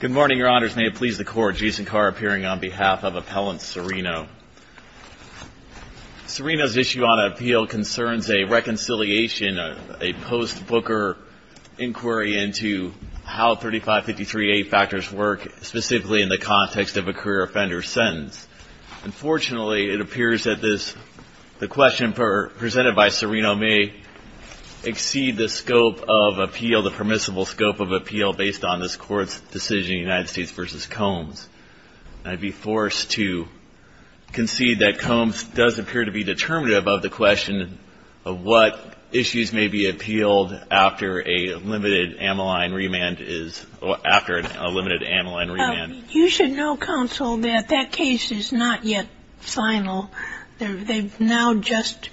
Good morning, Your Honors. May it please the Court, Jason Carr appearing on behalf of Appellant Cirino. Cirino's issue on appeal concerns a reconciliation, a post-Booker inquiry into how 3553A factors work, specifically in the context of a career offender's sentence. Unfortunately, it appears that the question presented by Cirino may exceed the permissible scope of appeal based on this Court's decision in the United States v. Combs. I'd be forced to concede that Combs does appear to be determinative of the question of what issues may be appealed after a limited amyloid remand is or after a limited amyloid remand. You should know, Counsel, that that case is not yet final. They've now just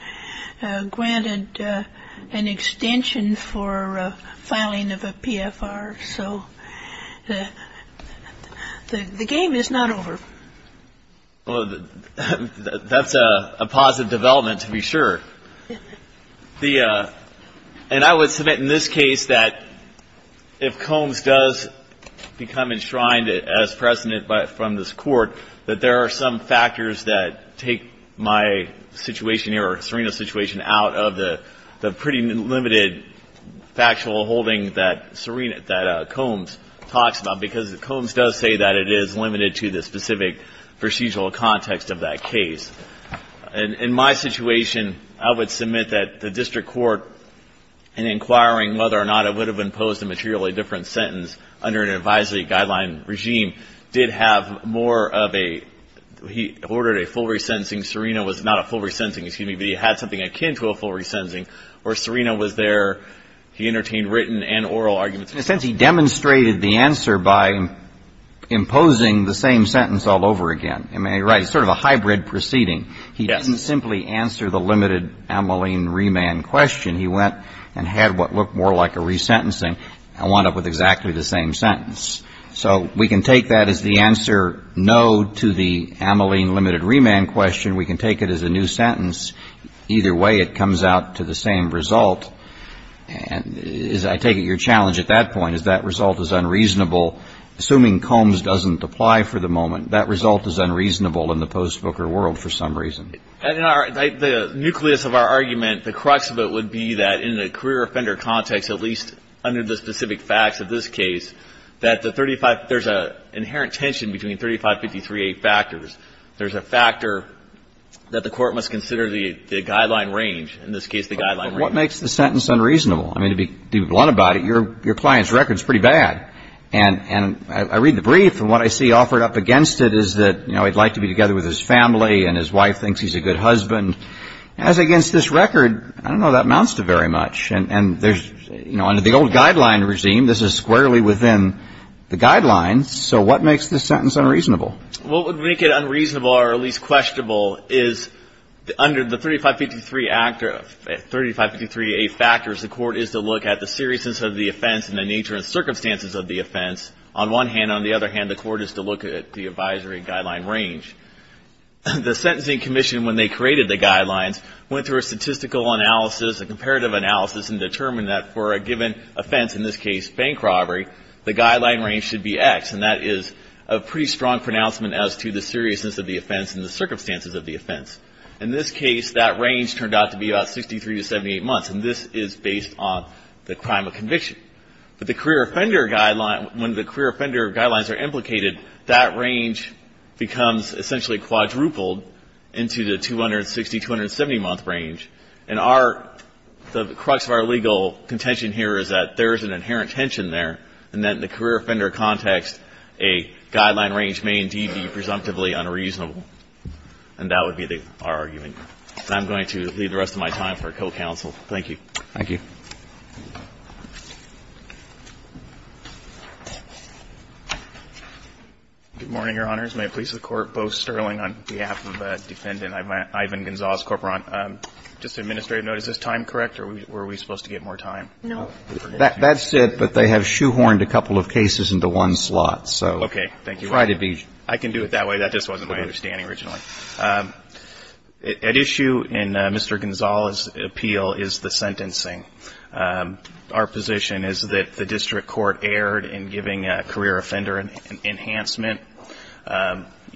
granted an extension for filing of a PFR. So the game is not over. Well, that's a positive development, to be sure. And I would submit in this case that if Combs does become enshrined as President from this Court, that there are some factors that take my situation here, or Cirino's situation, out of the pretty limited factual holding that Combs talks about, because Combs does say that it is limited to the specific procedural context of that case. In my situation, I would submit that the District Court, in inquiring whether or not it would have imposed a materially different sentence under an advisory guideline regime, did have more of a, he ordered a full resentencing. Cirino was not a full resentencing, excuse me, but he had something akin to a full resentencing, where Cirino was there, he entertained written and oral arguments. In a sense, he demonstrated the answer by imposing the same sentence all over again. I mean, he writes sort of a hybrid proceeding. He doesn't simply answer the limited amyloid remand question. He went and had what looked more like a resentencing and wound up with exactly the same sentence. So we can take that as the answer no to the amyloid limited remand question. We can take it as a new sentence. Either way, it comes out to the same result. I take it your challenge at that point is that result is unreasonable. Assuming Combs doesn't apply for the moment, that result is unreasonable in the post-Booker world for some reason. The nucleus of our argument, the crux of it would be that in a career offender context, at least under the specific facts of this case, that the 35, there's an inherent tension between 3553A factors. There's a factor that the Court must consider the guideline range. In this case, the guideline range. What makes the sentence unreasonable? I mean, to be blunt about it, your client's record is pretty bad. And I read the brief, and what I see offered up against it is that he'd like to be together with his family, and his wife thinks he's a good husband. As against this record, I don't know that amounts to very much. And there's, you know, under the old guideline regime, this is squarely within the guidelines. So what makes this sentence unreasonable? What would make it unreasonable, or at least questionable, is under the 3553A factors, the Court is to look at the seriousness of the offense and the nature and circumstances of the offense. On one hand. On the other hand, the Court is to look at the advisory guideline range. The Sentencing Commission, when they created the guidelines, went through a statistical analysis, a comparative analysis, and determined that for a given offense, in this case bank robbery, the guideline range should be X. And that is a pretty strong pronouncement as to the seriousness of the offense and the circumstances of the offense. In this case, that range turned out to be about 63 to 78 months. And this is based on the crime of conviction. But the career offender guideline, when the career offender guidelines are implicated, that range becomes essentially quadrupled into the 260, 270-month range. And our, the career offender context, a guideline range may indeed be presumptively unreasonable. And that would be our argument. And I'm going to leave the rest of my time for co-counsel. Thank you. Thank you. Good morning, Your Honors. May it please the Court, Bo Sterling on behalf of Defendant Ivan Gonzalez-Corporan. Just an administrative note, is this time correct, or were we supposed to get more time? No. That's it, but they have shoehorned a couple of cases into one slot. So, try to be ---- I can do it that way. That just wasn't my understanding originally. At issue in Mr. Gonzalez' appeal is the sentencing. Our position is that the district court erred in giving a career offender enhancement.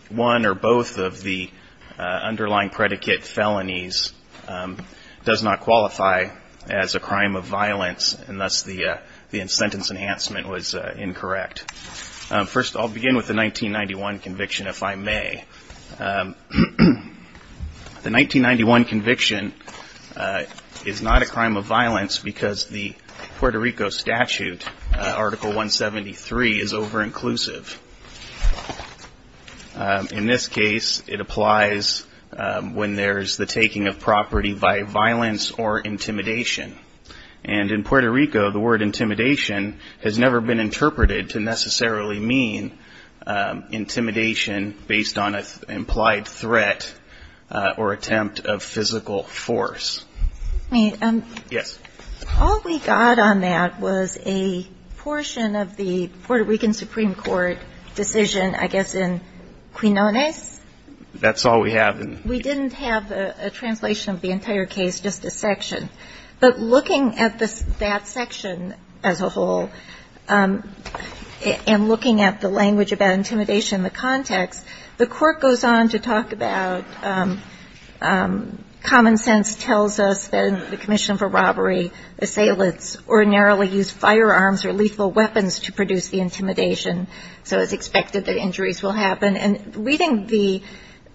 One or both of the underlying predicate felonies does not qualify as a crime of violence, and thus the sentence enhancement was incorrect. First I'll begin with the 1991 conviction, if I may. The 1991 conviction is not a crime of violence because the Puerto Rico statute, Article 173, is over-inclusive. In this case, it applies when there's the taking of property by violence or intimidation. And in Puerto Rico, the word intimidation has never been interpreted to necessarily mean intimidation based on an implied threat or attempt of physical force. All we got on that was a portion of the Puerto Rican Supreme Court decision, I guess in Quinones That's all we have. We didn't have a translation of the entire case, just a section. But looking at that section as a whole, and looking at the language about intimidation and the context, the Court goes on to talk about common sense tells us that the Commission for Robbery, assailants ordinarily use firearms or lethal weapons to produce the intimidation. So it's expected that injuries will happen. And reading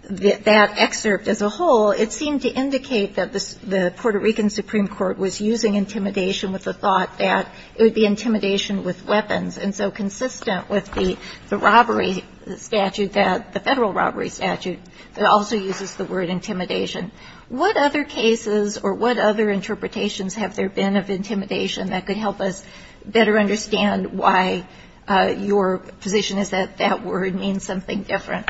that excerpt as a whole, it seemed to indicate that the Puerto Rican Supreme Court was using intimidation with the thought that it would be intimidation with weapons. And so consistent with the federal robbery statute, it also uses the word intimidation. What other cases or what other interpretations have there been of intimidation that could help us better understand why your position is that that word means something different?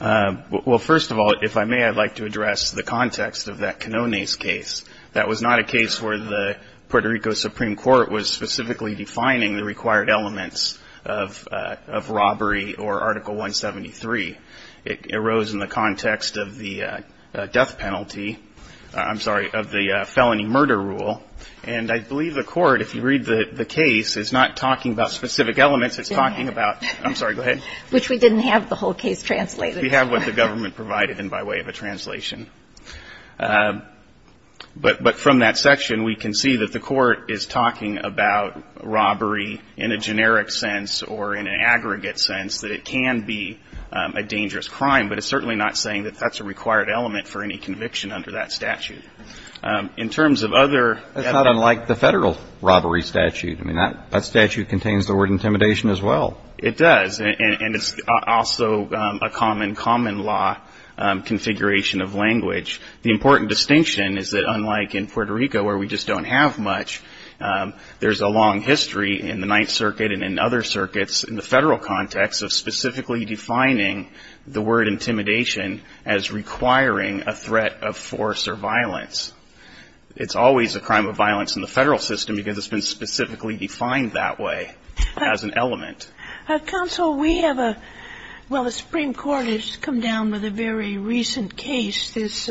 Well, first of all, if I may, I'd like to address the context of that Quinones case. That was not a case where the Puerto Rico Supreme Court was specifically defining the required elements of robbery or Article 173. It arose in the context of the death penalty of the felony murder rule. And I believe the Court, if you read the case, is not talking about specific elements. It's talking about – I'm sorry, go ahead. Which we didn't have the whole case translated. We have what the government provided in by way of a translation. But from that section, we can see that the Court is talking about robbery in a generic sense or in an aggregate sense, that it can be a dangerous crime. But it's certainly not saying that that's the required element for any conviction under that statute. In terms of other – That's not unlike the federal robbery statute. I mean, that statute contains the word intimidation as well. It does. And it's also a common, common law configuration of language. The important distinction is that unlike in Puerto Rico where we just don't have much, there's a long history in the Ninth Circuit and in other circuits in the federal context of specifically defining the word intimidation as requiring a threat of force or violence. It's always a crime of violence in the federal system because it's been specifically defined that way as an element. Counsel, we have a – well, the Supreme Court has come down with a very recent case, this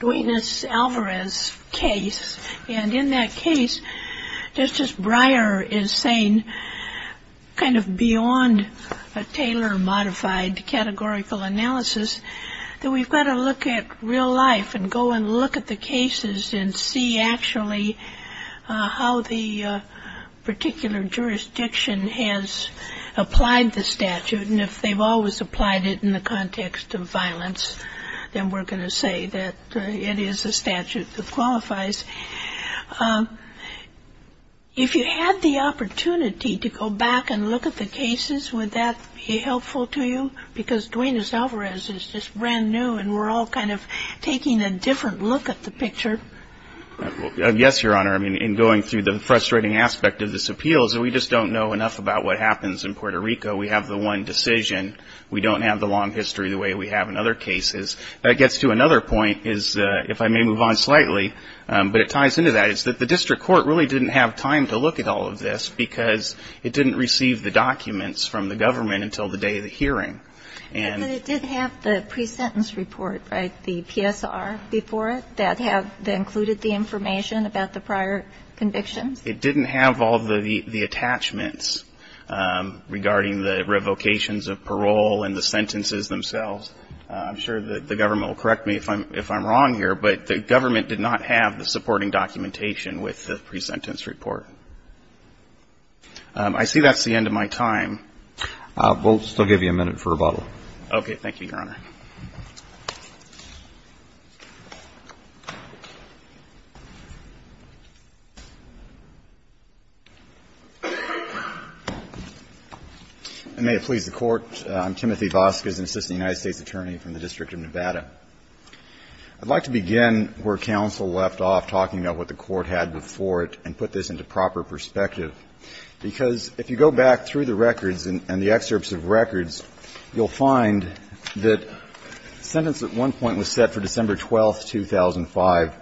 Duenas-Alvarez case. And in that case, Justice Breyer is saying kind of beyond a Taylor-Myers modified categorical analysis, that we've got to look at real life and go and look at the cases and see actually how the particular jurisdiction has applied the statute. And if they've always applied it in the context of violence, then we're going to say that it is a statute that qualifies. If you had the opportunity to go back and look at the cases, would that be helpful to you? Because Duenas-Alvarez is just brand new and we're all kind of taking a different look at the picture. Yes, Your Honor. I mean, in going through the frustrating aspect of this appeal is that we just don't know enough about what happens in Puerto Rico. We have the one decision. We don't have the long history the way we have in other cases. That gets to another point is, if I may move on slightly, but it ties into that, is that the district court really didn't have time to look at all of this because it didn't receive the documents from the government until the day of the hearing. But it did have the pre-sentence report, right, the PSR before it that have included the information about the prior convictions? It didn't have all of the attachments regarding the revocations of parole and the sentences themselves. I'm sure that the government will correct me if I'm wrong here, but the government did not have the supporting documentation with the pre-sentence report. I see that's the end of my time. We'll still give you a minute for rebuttal. Okay. Thank you, Your Honor. And may it please the Court, I'm Timothy Vasquez, and Assistant Attorney General for the District of Nevada. I'd like to begin where counsel left off talking about what the Court had before it and put this into proper perspective, because if you go back through the records and the excerpts of records, you'll find that sentence at one point was set for December 12th, 2005.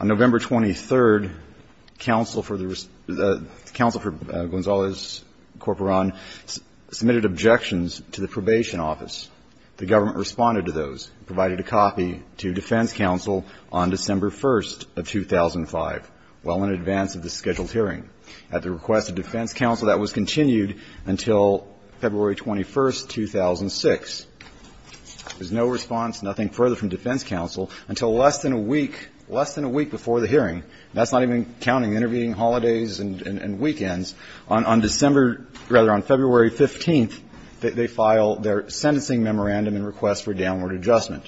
On November 23rd, counsel for Gonzales-Corporan submitted objections to the probation office. The government responded to those, provided a copy to defense counsel on December 1st of 2005, well in advance of the scheduled hearing. At the request of defense counsel, that was continued until February 21st, 2006. There's no response, nothing further from defense counsel until less than a week, less than a week before the hearing. That's not even counting intervening holidays and weekends. On December – rather, on February 15th, they file their sentencing memorandum and request for downward adjustment.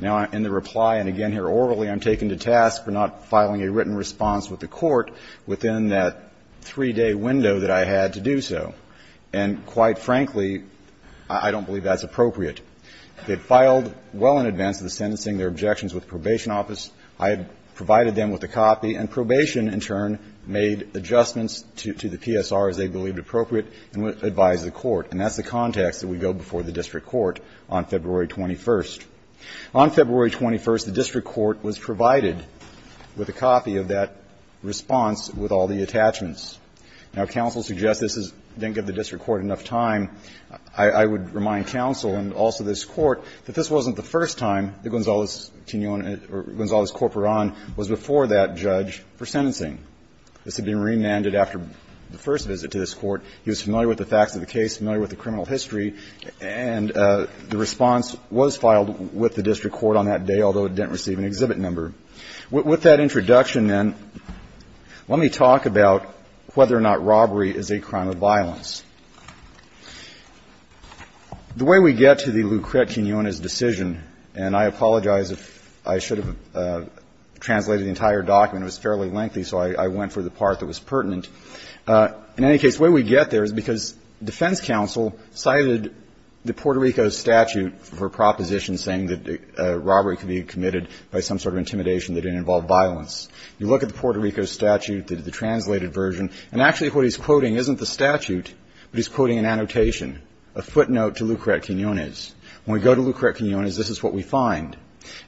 Now, in the reply, and again here orally, I'm taken to task for not filing a written response with the Court within that 3-day window that I had to do so. And quite frankly, I don't believe that's appropriate. They filed well in advance of the sentencing their objections with the probation office, I provided them with a copy, and probation, in turn, made adjustments to the PSR as they believed appropriate and advised the Court. And that's the context that we go before the district court on February 21st. On February 21st, the district court was provided with a copy of that response with all the attachments. Now, if counsel suggests this didn't give the district court enough time, I would remind counsel and also this Court that this wasn't the first time that Gonzales-Corporan was before that judge for sentencing. This had been remanded after the first visit to this Court. He was familiar with the facts of the case, familiar with the criminal history, and the response was filed with the district court on that day, although it didn't receive an exhibit number. With that introduction, then, let me talk about whether or not robbery is a crime of violence. The way we get to the Lucret-Quinonez decision, and I apologize if I should have translated the entire document. It was fairly lengthy, so I went for the part that was pertinent. In any case, the way we get there is because defense counsel cited the Puerto Rico statute for a proposition saying that robbery could be committed by some sort of intimidation that didn't involve violence. You look at the Puerto Rico statute, the translated version, and actually what he's quoting is not the statute, but he's quoting an annotation, a footnote to Lucret-Quinonez. When we go to Lucret-Quinonez, this is what we find.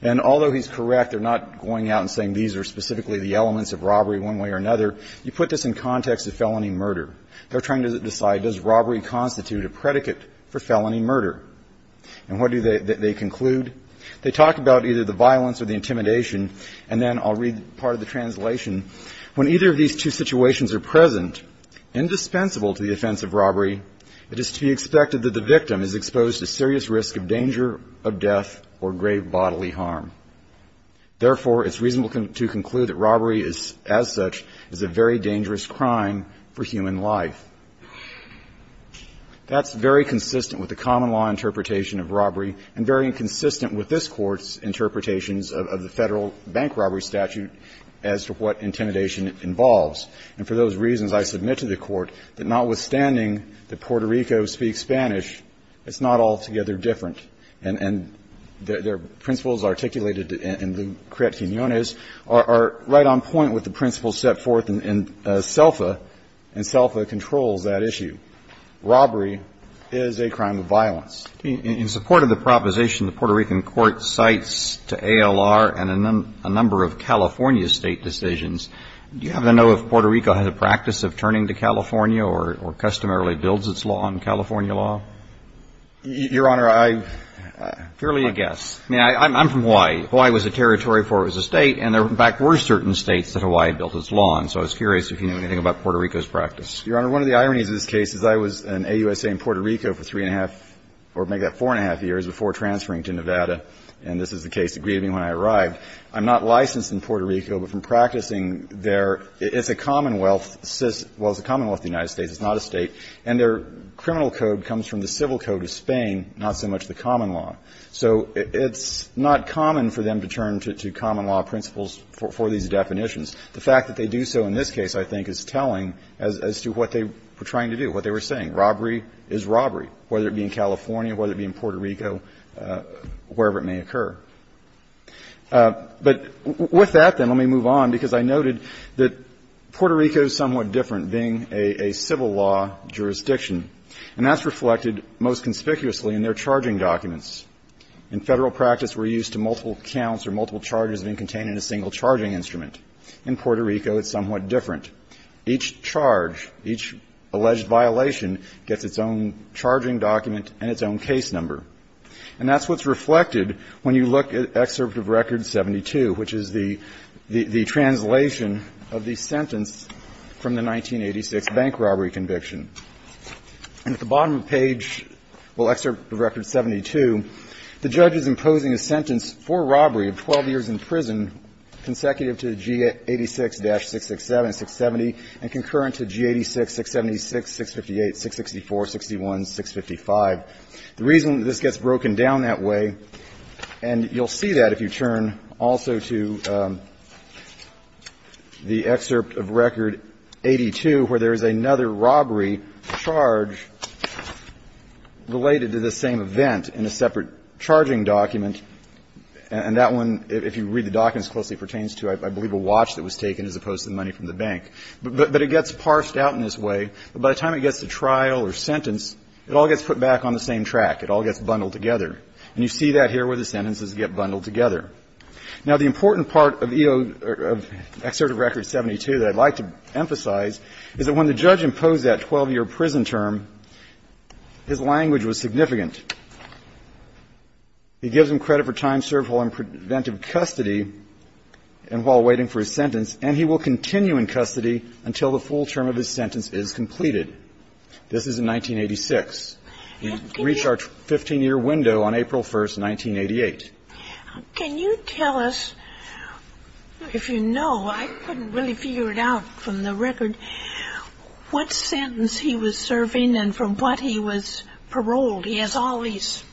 And although he's correct, they're not going out and saying these are specifically the elements of robbery one way or another. You put this in context of felony murder. They're trying to decide does robbery constitute a predicate for felony murder. And what do they conclude? They talk about either the violence or the intimidation. And then I'll read part of the translation. When either of these two situations are present, indispensable to the offense of robbery, it is to be expected that the victim is exposed to serious risk of danger of death or grave bodily harm. Therefore, it's reasonable to conclude that robbery is, as such, is a very dangerous crime for human life. That's very consistent with the common law interpretation of robbery and very inconsistent with this Court's interpretations of the Federal bank robbery statute as to what intimidation involves. And for those reasons, I submit to the Court that notwithstanding that Puerto Rico speaks Spanish, it's not altogether different. And the principles articulated in Lucret-Quinonez are right on point with the principles set forth in CELFA, and CELFA controls that issue. Robbery is a crime of violence. In support of the proposition, the Puerto Rican court cites to ALR and a number of California State decisions. Do you happen to know if Puerto Rico had a practice of turning to California or customarily builds its law on California law? Your Honor, I don't. Fairly a guess. I mean, I'm from Hawaii. Hawaii was a territory before it was a State, and there, in fact, were certain States that Hawaii built its law on. So I was curious if you knew anything about Puerto Rico's practice. Your Honor, one of the ironies of this case is I was an AUSA in Puerto Rico for three and a half, or make that four and a half years, before transferring to Nevada, and this is the case that greeted me when I arrived. I'm not licensed in Puerto Rico, but from practicing there, it's a commonwealth system – well, it's a commonwealth of the United States. It's not a State. And their criminal code comes from the civil code of Spain, not so much the common law. So it's not common for them to turn to common law principles for these definitions. The fact that they do so in this case, I think, is telling as to what they were trying to do, what they were saying. Robbery is robbery, whether it be in California, whether it be in Puerto Rico, wherever it may occur. But with that, then, let me move on, because I noted that Puerto Rico is somewhat different, being a civil law jurisdiction, and that's reflected most conspicuously in their charging documents. In Federal practice, we're used to multiple counts or multiple charges being contained in a single charging instrument. In Puerto Rico, it's somewhat different. Each charge, each alleged violation gets its own charging document and its own case number. And that's what's reflected when you look at Excerpt of Record 72, which is the translation of the sentence from the 1986 bank robbery conviction. And at the bottom of the page, well, Excerpt of Record 72, the judge is imposing a sentence for robbery of 12 years in prison consecutive to G86-667, 670, and concurrent to G86-676, 658, 664, 61, 655. The reason that this gets broken down that way, and you'll see that if you turn also to the Excerpt of Record 82, where there is another robbery charge related to the same event in a separate charging document. And that one, if you read the documents closely, pertains to, I believe, a watch that was taken as opposed to the money from the bank. But it gets parsed out in this way. By the time it gets to trial or sentence, it all gets put back on the same track. It all gets bundled together. And you see that here where the sentences get bundled together. Now, the important part of Excerpt of Record 72 that I'd like to emphasize is that when the judge imposed that 12-year prison term, his language was significant. He gives him credit for time served while in preventive custody and while waiting for his sentence, and he will continue in custody until the full term of his sentence is completed. This is in 1986. We reach our 15-year window on April 1, 1988. Can you tell us, if you know, I couldn't really figure it out from the record, what sentence he was serving and from what he was paroled. He has all these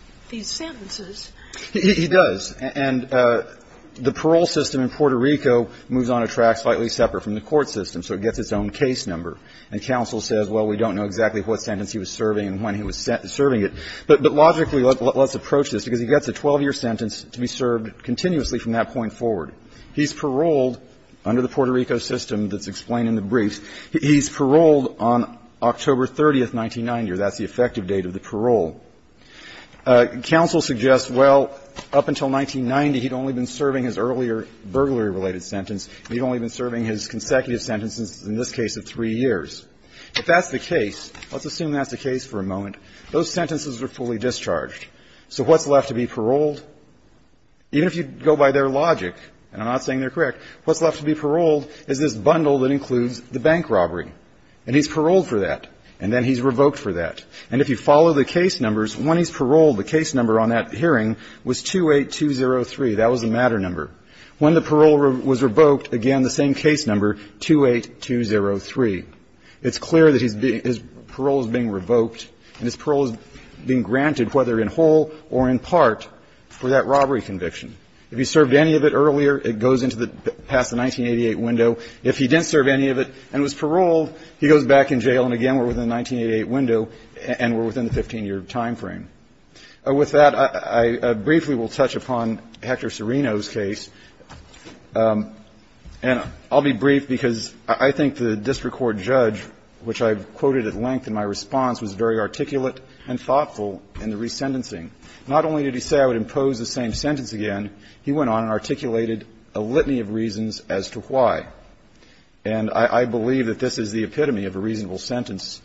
sentences. He does. And the parole system in Puerto Rico moves on a track slightly separate from the court system, so it gets its own case number. And counsel says, well, we don't know exactly what sentence he was serving and when he was serving it. But logically, let's approach this, because he gets a 12-year sentence to be served continuously from that point forward. He's paroled under the Puerto Rico system that's explained in the briefs. He's paroled on October 30, 1990. That's the effective date of the parole. Counsel suggests, well, up until 1990, he'd only been serving his earlier burglary-related sentence. He'd only been serving his consecutive sentences, in this case of three years. If that's the case, let's assume that's the case for a moment. Those sentences are fully discharged. So what's left to be paroled? Even if you go by their logic, and I'm not saying they're correct, what's left to be paroled is this bundle that includes the bank robbery. And he's paroled for that. And then he's revoked for that. And if you follow the case numbers, when he's paroled, the case number on that hearing was 28203. That was the matter number. When the parole was revoked, again, the same case number, 28203. It's clear that his parole is being revoked and his parole is being granted, whether in whole or in part, for that robbery conviction. If he served any of it earlier, it goes into the 1988 window. If he didn't serve any of it and was paroled, he goes back in jail and, again, we're within the 1988 window and we're within the 15-year time frame. With that, I briefly will touch upon Hector Serino's case. And I'll be brief because I think the district court judge, which I've quoted at length in my response, was very articulate and thoughtful in the resentencing. Not only did he say I would impose the same sentence again, he went on and articulated a litany of reasons as to why. And I believe that this is the epitome of a reasonable sentence.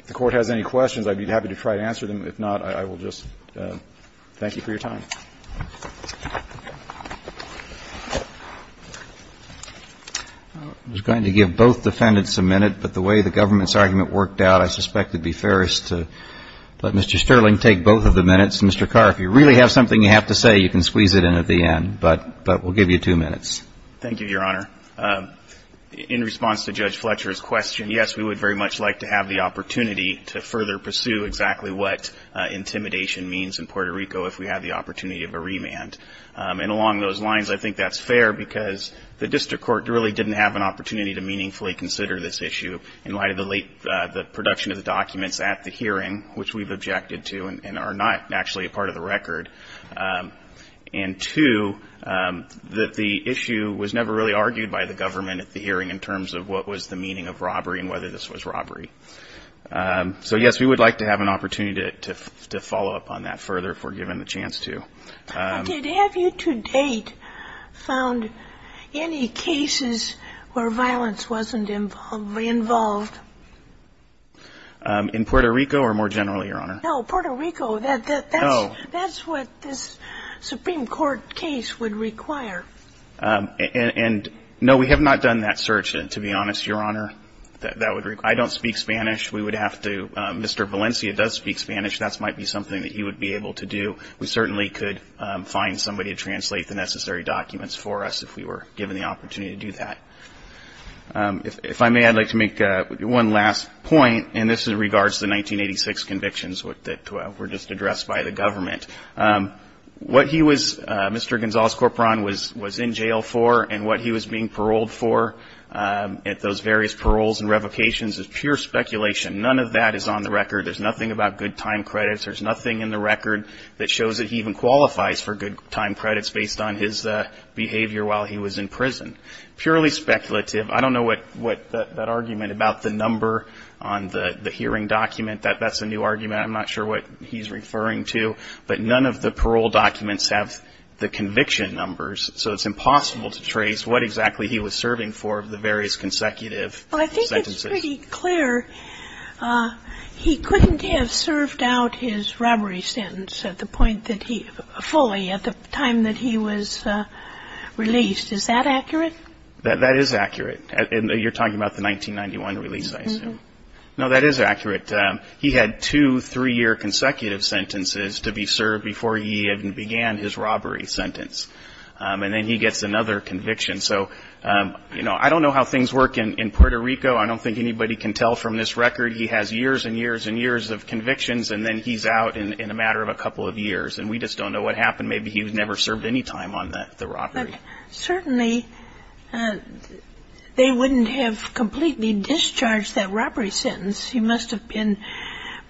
If the Court has any questions, I'd be happy to try to answer them. If not, I will just thank you for your time. I was going to give both defendants a minute, but the way the government's argument worked out, I suspect it would be fairest to let Mr. Sterling take both of the minutes. Mr. Carr, if you really have something you have to say, you can squeeze it in at the I'll give you two minutes. Thank you, Your Honor. In response to Judge Fletcher's question, yes, we would very much like to have the opportunity to further pursue exactly what intimidation means in Puerto Rico if we have the opportunity of a remand. And along those lines, I think that's fair because the district court really didn't have an opportunity to meaningfully consider this issue in light of the production of the documents at the hearing, which we've objected to and are not actually a part of the record. And two, that the issue was never really argued by the government at the hearing in terms of what was the meaning of robbery and whether this was robbery. So, yes, we would like to have an opportunity to follow up on that further if we're given the chance to. But did have you to date found any cases where violence wasn't involved? In Puerto Rico or more generally, Your Honor? No, Puerto Rico. That's what this Supreme Court case would require. And no, we have not done that search, to be honest, Your Honor. I don't speak Spanish. We would have to. Mr. Valencia does speak Spanish. That might be something that he would be able to do. We certainly could find somebody to translate the necessary documents for us if we were given the opportunity to do that. If I may, I'd like to make one last point, and this regards the 1986 convictions that were just addressed by the government. What he was, Mr. Gonzales-Corporan, was in jail for and what he was being paroled for at those various paroles and revocations is pure speculation. None of that is on the record. There's nothing about good time credits. There's nothing in the record that shows that he even qualifies for good time credits based on his behavior while he was in prison. Purely speculative. I don't know what that argument about the number on the hearing document. That's a new argument. I'm not sure what he's referring to. But none of the parole documents have the conviction numbers, so it's impossible to trace what exactly he was serving for the various consecutive sentences. Well, I think it's pretty clear he couldn't have served out his robbery sentence at the point that he fully, at the time that he was released. Is that accurate? That is accurate. And you're talking about the 1991 release, I assume. No, that is accurate. He had two three-year consecutive sentences to be served before he even began his robbery sentence. And then he gets another conviction. So, you know, I don't know how things work in Puerto Rico. I don't think anybody can tell from this record. He has years and years and years of convictions, and then he's out in a matter of a couple of years. And we just don't know what happened. Maybe he was never served any time on the robbery. Certainly, they wouldn't have completely discharged that robbery sentence. He must have been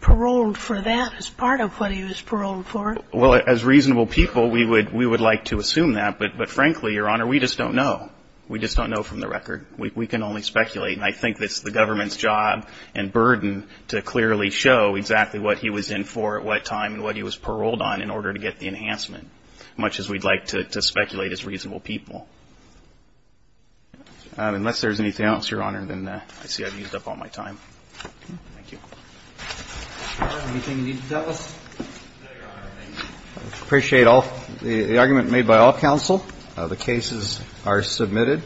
paroled for that as part of what he was paroled for. Well, as reasonable people, we would like to assume that. But, frankly, Your Honor, we just don't know. We just don't know from the record. We can only speculate. And I think it's the government's job and burden to clearly show exactly what he was in for at what time and what he was paroled on in order to get the enhancement, much as we'd like to speculate as reasonable people. Unless there's anything else, Your Honor, then I see I've used up all my time. Thank you. Anything you need to tell us? No, Your Honor. Thank you. I appreciate the argument made by all counsel. The cases are submitted.